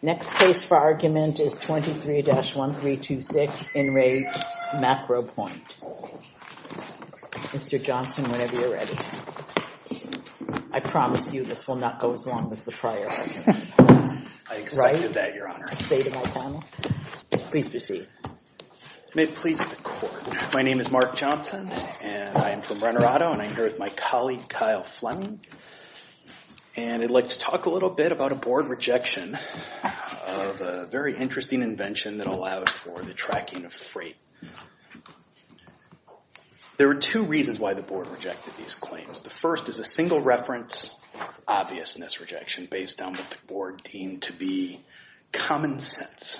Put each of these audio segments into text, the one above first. Next case for argument is 23-1326, In Re, MacroPoint. Mr. Johnson, whenever you're ready. I promise you this will not go as long as the prior argument. I expected that, Your Honor. Say to my panel, please proceed. May it please the court. My name is Mark Johnson, and I am from Renner Auto, and I'm here with my colleague, Kyle Fleming. And I'd like to talk a little bit about a board rejection of a very interesting invention that allowed for the tracking of freight. There are two reasons why the board rejected these claims. The first is a single reference obviousness rejection based on what the board deemed to be common sense.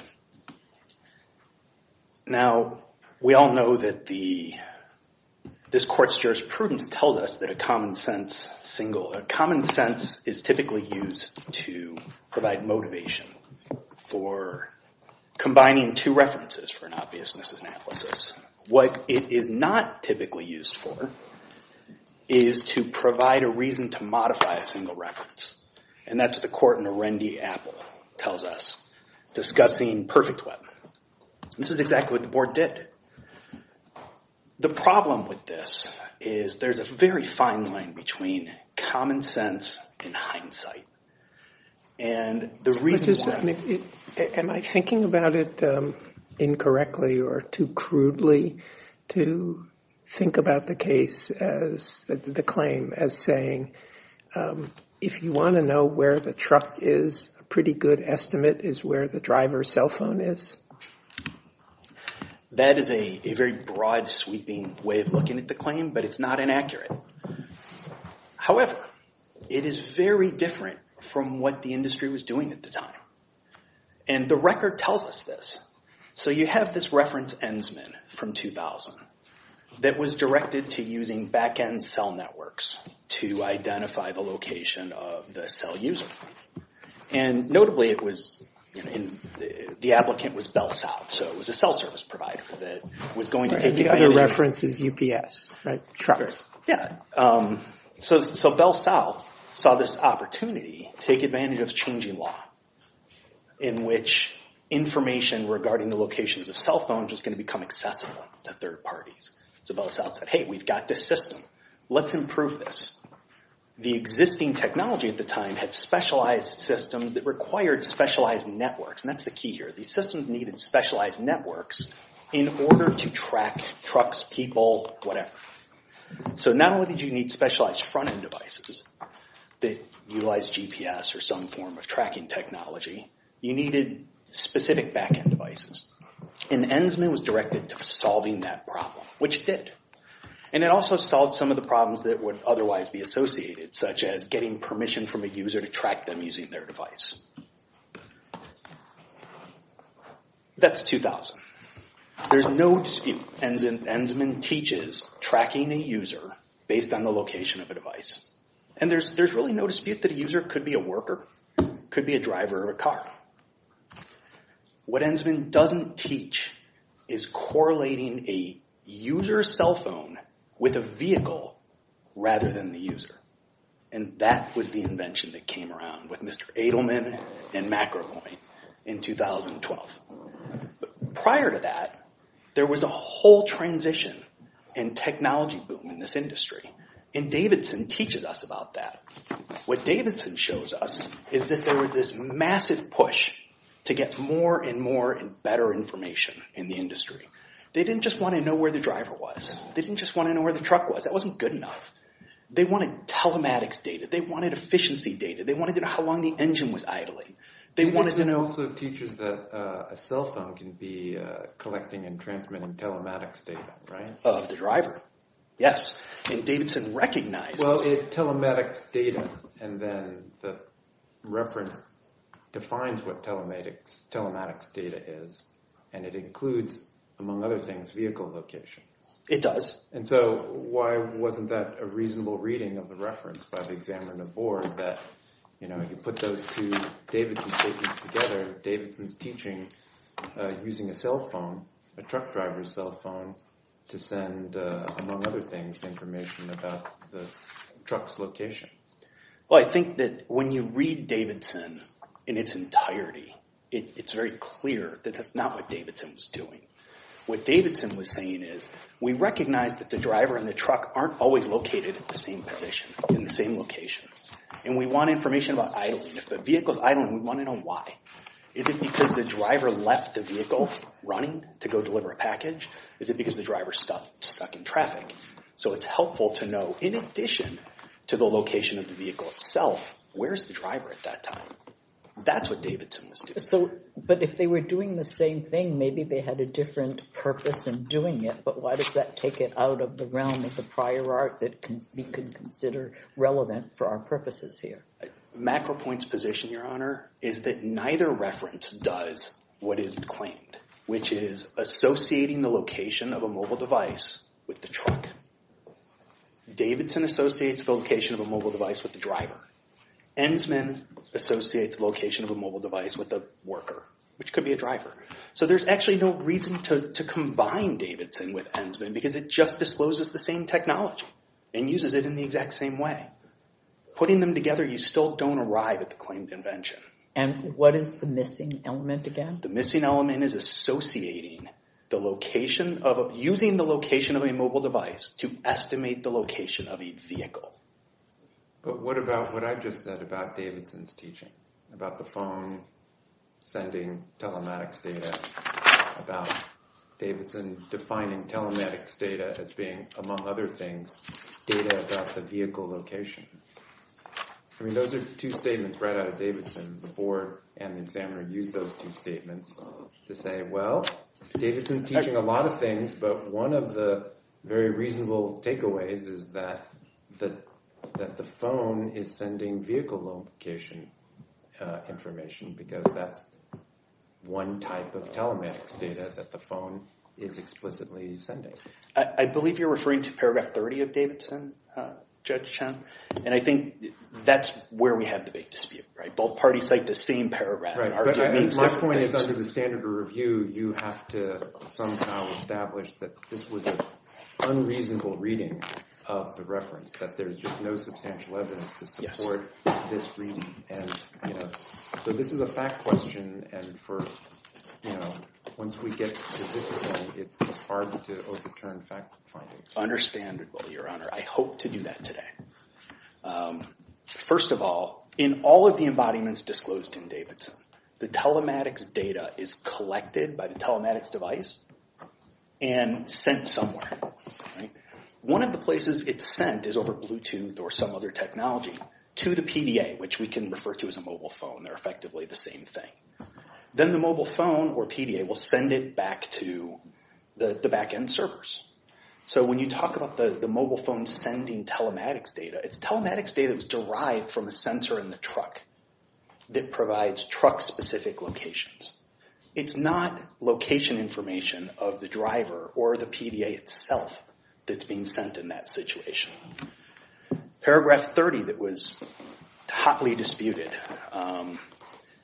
Now, we all know that this court's jurisprudence tells us that a common sense single, a common sense is typically used to provide motivation for combining two references for an obviousness analysis. What it is not typically used for is to provide a reason to modify a single reference. And that's what the court in Arundi-Apple tells us, discussing perfect web. This is exactly what the board did. The problem with this is there's a very fine line between common sense and hindsight. And the reason why. Am I thinking about it incorrectly or too crudely to think about the claim as saying, if you want to know where the truck is, a pretty good estimate is where the driver's cell phone is. That is a very broad, sweeping way of looking at the claim, but it's not inaccurate. However, it is very different from what the industry was doing at the time. And the record tells us this. So you have this reference Ensman from 2000 that was directed to using back-end cell networks to identify the location of the cell user. And notably, the applicant was Bell South. So it was a cell service provider that was going to take advantage. And the other reference is UPS, right? Trucks. Yeah. So Bell South saw this opportunity to take advantage of changing law, in which information regarding the locations of cell phones is going to become accessible to third parties. So Bell South said, hey, we've got this system. Let's improve this. The existing technology at the time had specialized systems that required specialized networks. And that's the key here. These systems needed specialized networks in order to track trucks, people, whatever. So not only did you need specialized front-end devices that utilized GPS or some form of tracking technology, you needed specific back-end devices. And Ensman was directed to solving that problem, which did. And it also solved some of the problems that would otherwise be associated, such as getting permission from a user to track them using their device. That's 2000. There's no dispute. Ensman teaches tracking a user based on the location of a device. And there's really no dispute that a user could be a worker, could be a driver of a car. What Ensman doesn't teach is correlating a user's cell phone with a vehicle rather than the user. And that was the invention that came around with Mr. Edelman and MacroPoint in 2012. Prior to that, there was a whole transition in technology boom in this industry. And Davidson teaches us about that. What Davidson shows us is that there was this massive push to get more and more and better information in the industry. They didn't just want to know where the driver was. They didn't just want to know where the truck was. That wasn't good enough. They wanted telematics data. They wanted efficiency data. They wanted to know how long the engine was idling. They wanted to know. Davidson also teaches that a cell phone can be collecting and transmitting telematics data, right? Of the driver, yes. And Davidson recognizes that. Well, it telematics data. And then the reference defines what telematics data is. And it includes, among other things, vehicle location. It does. And so why wasn't that a reasonable reading of the reference by the examiner on the board that you put those two Davidson statements together, Davidson's teaching using a cell phone, a truck driver's cell phone, to send, among other things, information about the truck's location? Well, I think that when you read Davidson in its entirety, it's very clear that that's not what Davidson was doing. What Davidson was saying is, we recognize that the driver and the truck aren't always located at the same position, in the same location. And we want information about idling. If the vehicle's idling, we want to know why. Is it because the driver left the vehicle running to go deliver a package? Is it because the driver's stuck in traffic? So it's helpful to know, in addition to the location of the vehicle itself, where's the driver at that time? That's what Davidson was doing. But if they were doing the same thing, maybe they had a different purpose in doing it. But why does that take it out of the realm of the prior art that we can consider relevant for our purposes here? MacroPoint's position, Your Honor, is that neither reference does what is claimed, which is associating the location of a mobile device with the truck. Davidson associates the location of a mobile device with the driver. Ensman associates the location of a mobile device with the worker, which could be a driver. So there's actually no reason to combine Davidson with Ensman, because it just discloses the same technology and uses it in the exact same way. Putting them together, you still don't arrive at the claimed invention. And what is the missing element again? The missing element is associating the location of a, using the location of a mobile device to estimate the location of a vehicle. But what about what I just said about Davidson's teaching, about the phone sending telematics data, about Davidson defining telematics data as being, among other things, data about the vehicle location? I mean, those are two statements right out of Davidson. The board and the examiner used those two statements to say, well, Davidson's teaching a lot of things, but one of the very reasonable takeaways is that the phone is sending vehicle location. Information because that's one type of telematics data that the phone is explicitly sending. I believe you're referring to paragraph 30 of Davidson, Judge Chen. And I think that's where we have the big dispute, right? Both parties cite the same paragraph. Right, but my point is under the standard of review, you have to somehow establish that this was an unreasonable reading of the reference, that there's just no substantial evidence to support this reading. And so this is a fact question, and once we get to this point, it's hard to overturn fact findings. Understandable, Your Honor. I hope to do that today. First of all, in all of the embodiments disclosed in Davidson, the telematics data is collected by the telematics device and sent somewhere, right? One of the places it's sent is over Bluetooth or some other technology to the PDA, which we can refer to as a mobile phone. They're effectively the same thing. Then the mobile phone or PDA will send it back to the back-end servers. So when you talk about the mobile phone sending telematics data, it's telematics data that was derived from a sensor in the truck that provides truck-specific locations. It's not location information of the driver or the PDA itself that's being sent in that situation. Paragraph 30 that was hotly disputed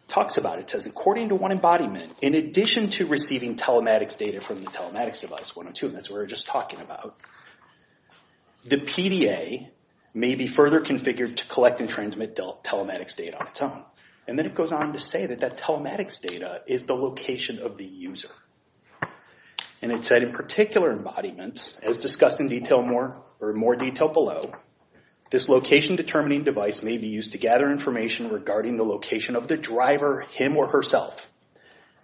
talks about it. It says, according to one embodiment, in addition to receiving telematics data from the telematics device 102, and that's what we were just talking about, the PDA may be further configured to collect and transmit telematics data on its own. And then it goes on to say that that telematics data is the location of the user. And it said, in particular embodiments, as discussed in more detail below, this location-determining device may be used to gather information regarding the location of the driver, him or herself,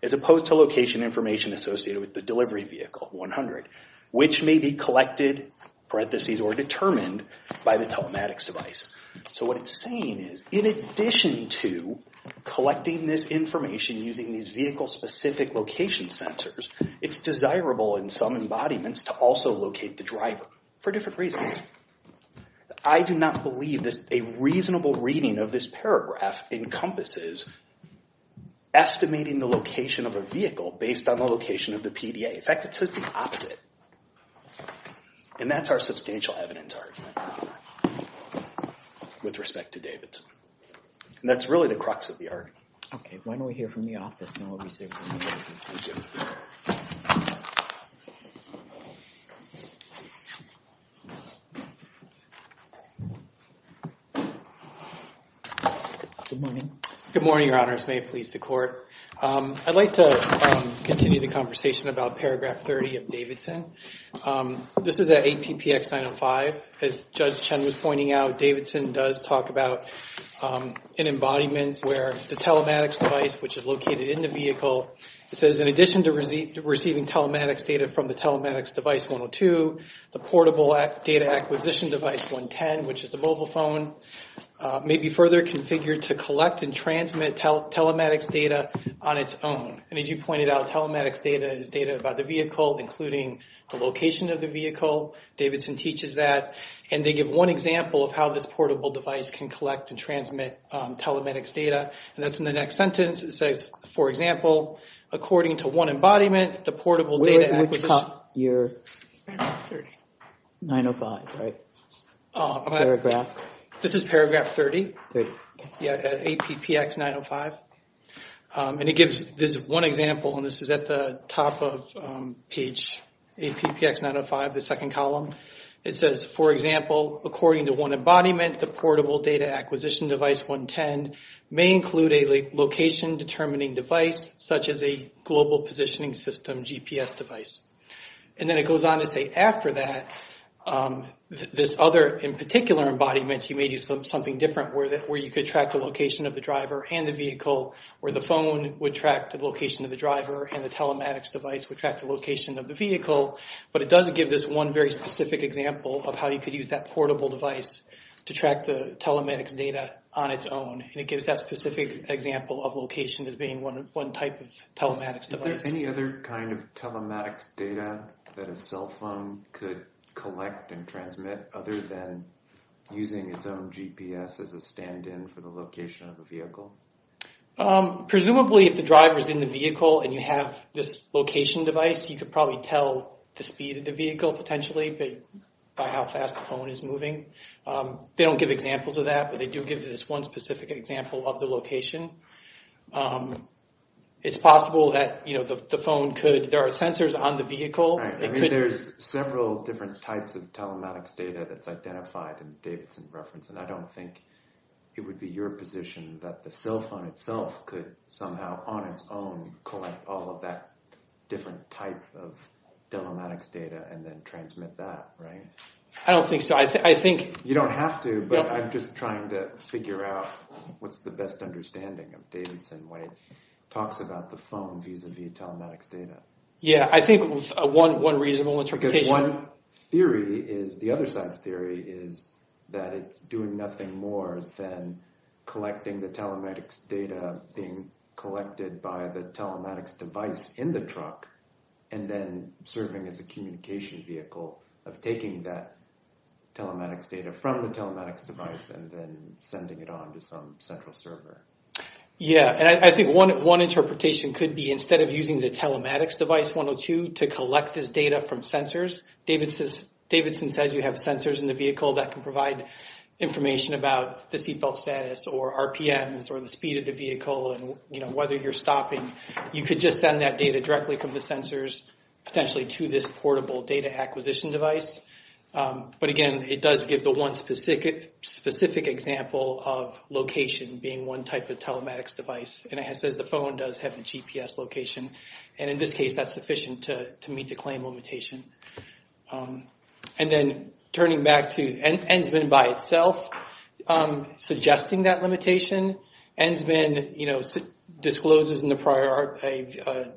as opposed to location information associated with the delivery vehicle 100, which may be collected, parentheses, or determined by the telematics device. So what it's saying is, in addition to collecting this information using these vehicle-specific location sensors, it's desirable in some embodiments to also locate the driver, for different reasons. I do not believe a reasonable reading of this paragraph encompasses estimating the location of a vehicle based on the location of the PDA. In fact, it says the opposite. And that's our substantial evidence argument with respect to Davidson. And that's really the crux of the argument. Okay, why don't we hear from the office, and then we'll be seeing from you. Thank you. Thank you. Good morning, your honors. May it please the court. I'd like to continue the conversation about paragraph 30 of Davidson. This is at 8PPX905. As Judge Chen was pointing out, Davidson does talk about an embodiment where the telematics device, which is located in the vehicle, it says, in addition to receiving telematics data from the telematics device 102, the portable data acquisition device 110, which is the mobile phone, may be further configured to collect and transmit telematics data on its own. And as you pointed out, telematics data is data about the vehicle, including the location of the vehicle. Davidson teaches that. And they give one example of how this portable device can collect and transmit telematics data. And that's in the next sentence. It says, for example, according to one embodiment, the portable data acquisition... Where at the top? Your... 905. 905, right. Paragraph. This is paragraph 30. 30. Yeah, at 8PPX905. And it gives this one example, and this is at the top of page 8PPX905, the second column. It says, for example, according to one embodiment, the portable data acquisition device 110 may include a location determining device, such as a global positioning system GPS device. And then it goes on to say, after that, this other, in particular embodiment, he may do something different, where you could track the location of the driver and the vehicle, where the phone would track the location of the driver, and the telematics device would track the location of the vehicle. But it doesn't give this one very specific example of how you could use that portable device to track the telematics data on its own. And it gives that specific example of location as being one type of telematics device. Is there any other kind of telematics data that a cell phone could collect and transmit other than using its own GPS as a stand-in for the location of the vehicle? Presumably, if the driver's in the vehicle and you have this location device, you could probably tell the speed of the vehicle, potentially, by how fast the phone is moving. They don't give examples of that, but they do give this one specific example of the location. It's possible that the phone could, there are sensors on the vehicle. Right, I mean, there's several different types of telematics data that's identified in Davidson Reference, and I don't think it would be your position that the cell phone itself could somehow, on its own, collect all of that different type of telematics data and then transmit that, right? I don't think so. I think... You don't have to, but I'm just trying to figure out what's the best understanding of Davidson when it talks about the phone vis-a-vis telematics data. Yeah, I think one reasonable interpretation... Because one theory is, the other side's theory, is that it's doing nothing more than collecting the telematics data being collected by the telematics device in the truck and then serving as a communication vehicle of taking that telematics data from the telematics device and then sending it on to some central server. Yeah, and I think one interpretation could be, instead of using the telematics device 102 to collect this data from sensors, Davidson says you have sensors in the vehicle that can provide information about the seatbelt status or RPMs or the speed of the vehicle and whether you're stopping. You could just send that data directly from the sensors, potentially, to this portable data acquisition device. But again, it does give the one specific example of location being one type of telematics device. And it says the phone does have the GPS location. And in this case, that's sufficient to meet the claim limitation. And then, turning back to Ensman by itself, suggesting that limitation. Ensman discloses in the prior a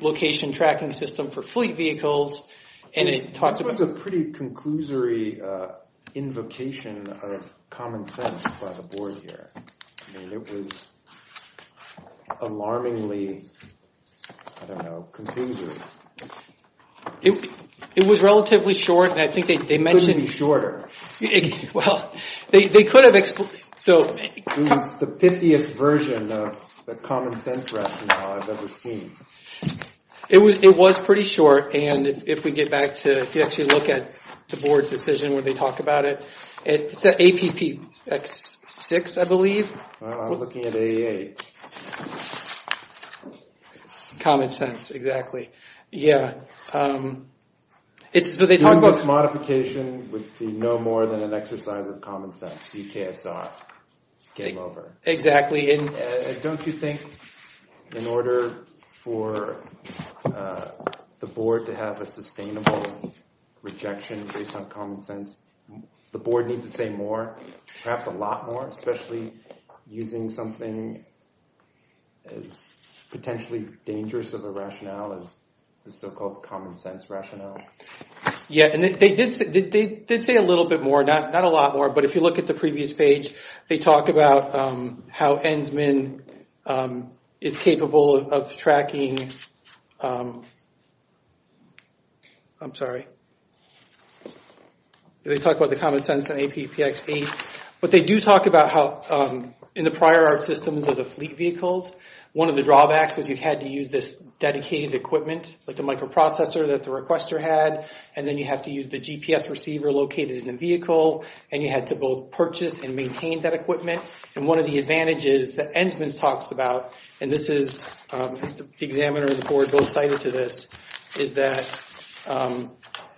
location tracking system for fleet vehicles, and it talks about- This was a pretty conclusory invocation of common sense by the board here. I mean, it was alarmingly, I don't know, confusory. It was relatively short, and I think they mentioned- Couldn't be shorter. Well, they could have explained, so- It was the pithiest version of the common sense rationale I've ever seen. It was pretty short, and if we get back to, if you actually look at the board's decision where they talk about it, it's at APPX6, I believe. Looking at A8. Common sense, exactly. Yeah. It's what they talk about- Doing this modification would be no more than an exercise of common sense, CKSR came over. Exactly, and- For the board to have a sustainable rejection based on common sense, the board needs to say more, perhaps a lot more, especially using something as potentially dangerous of a rationale as the so-called common sense rationale. Yeah, and they did say a little bit more, not a lot more, but if you look at the previous page, they talk about how Ensman is capable of tracking, I'm sorry. They talk about the common sense in APPX8, but they do talk about how in the prior art systems of the fleet vehicles, one of the drawbacks was you had to use this dedicated equipment, like the microprocessor that the requester had, and then you have to use the GPS receiver located in the vehicle, and you had to both purchase and maintain that equipment, and one of the advantages that Ensman talks about, and this is, the examiner and the board both cited to this, is that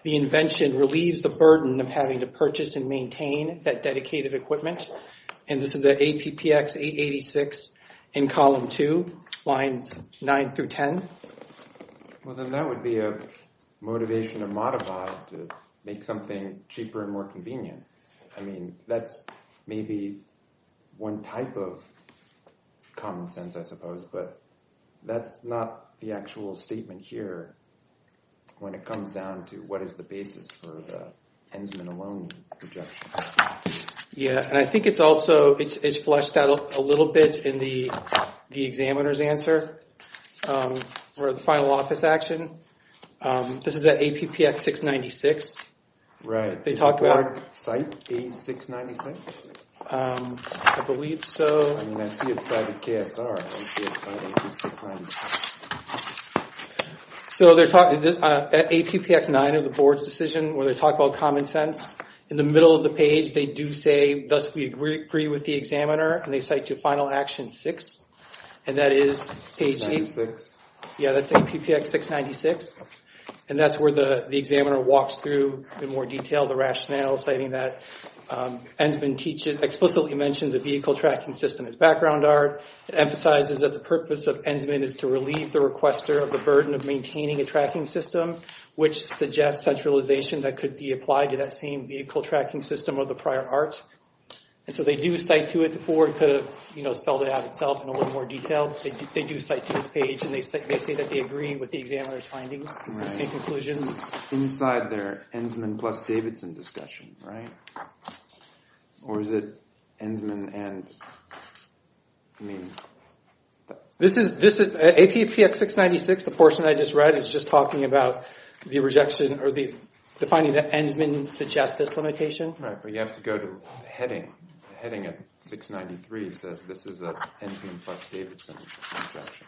the invention relieves the burden of having to purchase and maintain that dedicated equipment, and this is the APPX886 in column two, lines nine through 10. Well, then that would be a motivation to modify to make something cheaper and more convenient. I mean, that's maybe one type of common sense, I suppose, but that's not the actual statement here when it comes down to what is the basis for the Ensman alone objection. Yeah, and I think it's also, it's fleshed out a little bit in the examiner's answer, or the final office action. This is the APPX696. Right. They talk about it. Did the board cite A696? I believe so. I mean, I see it cited KSR, I don't see it cited A696. So they're talking, APPX9 of the board's decision where they talk about common sense. In the middle of the page, they do say, thus we agree with the examiner, and they cite to final action six, and that is page eight. 696. Yeah, that's APPX696, and that's where the examiner walks through in more detail the rationale, citing that Ensman explicitly mentions a vehicle tracking system as background art. It emphasizes that the purpose of Ensman is to relieve the requester of the burden of maintaining a tracking system, which suggests centralization that could be applied to that same vehicle tracking system of the prior art. And so they do cite to it. The board could have spelled it out itself in a little more detail, but they do cite to this page, and they say that they agree with the examiner's findings and conclusions. Inside their Ensman plus Davidson discussion, right? Or is it Ensman and, I mean. This is, APPX696, the portion I just read, is just talking about the rejection, or defining that Ensman suggests this limitation. Right, but you have to go to the heading. The heading of 693 says this is an Ensman plus Davidson objection.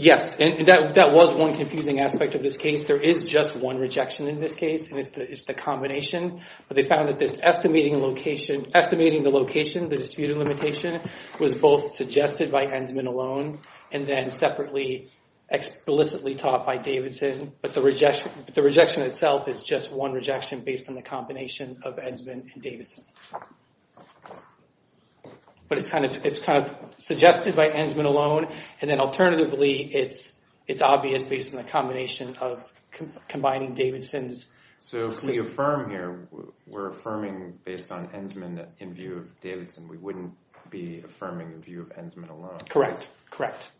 Yes, and that was one confusing aspect of this case. There is just one rejection in this case, and it's the combination. But they found that this estimating location, estimating the location, the disputed limitation, was both suggested by Ensman alone, and then separately, explicitly taught by Davidson. But the rejection itself is just one rejection based on the combination of Ensman and Davidson. But it's kind of suggested by Ensman alone, and then alternatively, it's obvious based on the combination of combining Davidson's. So, can you affirm here, we're affirming based on Ensman in view of Davidson. We wouldn't be affirming in view of Ensman alone. Correct, correct.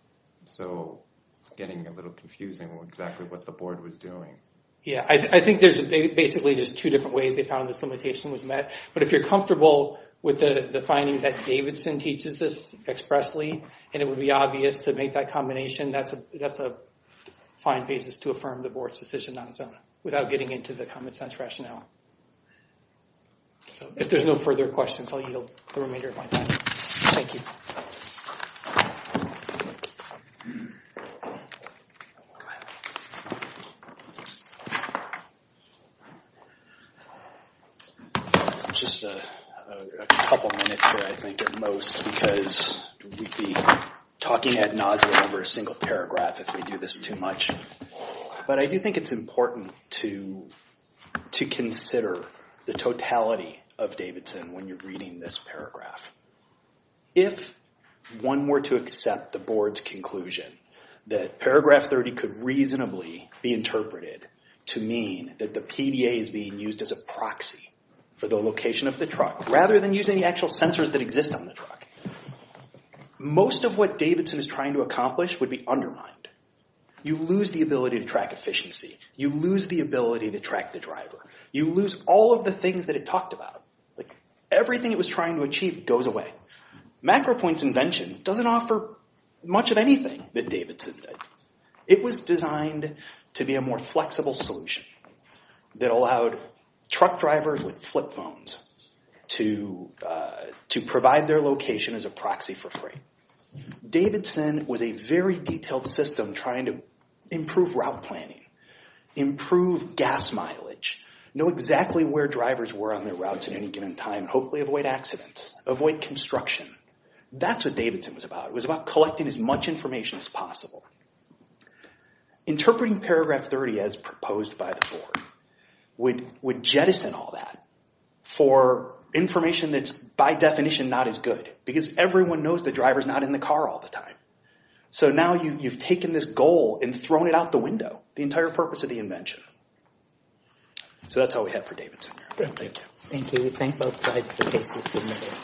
So, it's getting a little confusing, exactly what the board was doing. Yeah, I think there's basically just two different ways they found this limitation was met. But if you're comfortable with the finding that Davidson teaches this expressly, and it would be obvious to make that combination, that's a fine basis to affirm the board's decision on its own, without getting into the common sense rationale. So, if there's no further questions, I'll yield the remainder of my time. Thank you. Just a couple minutes here, I think, at most, because we'd be talking ad nauseam over a single paragraph if we do this too much. But I do think it's important to consider the totality of Davidson when you're reading this paragraph. If one were to accept the board's conclusion that paragraph 30 could reasonably be interpreted to mean that the PDA is being used as a proxy for the location of the truck, rather than using the actual sensors that exist on the truck, most of what Davidson is trying to accomplish would be undermined. You lose the ability to track efficiency. You lose the ability to track the driver. You lose all of the things that it talked about. Everything it was trying to achieve goes away. MacroPoint's invention doesn't offer much of anything that Davidson did. It was designed to be a more flexible solution that allowed truck drivers with flip phones to provide their location as a proxy for free. Davidson was a very detailed system trying to improve route planning, improve gas mileage, know exactly where drivers were on their routes at any given time, hopefully avoid accidents, avoid construction. That's what Davidson was about. It was about collecting as much information as possible. Interpreting paragraph 30 as proposed by the board would jettison all that for information that's by definition not as good because everyone knows the driver's not in the car all the time. So now you've taken this goal and thrown it out the window, the entire purpose of the invention. So that's all we have for Davidson here. Thank you. Thank you. We thank both sides for the cases submitted.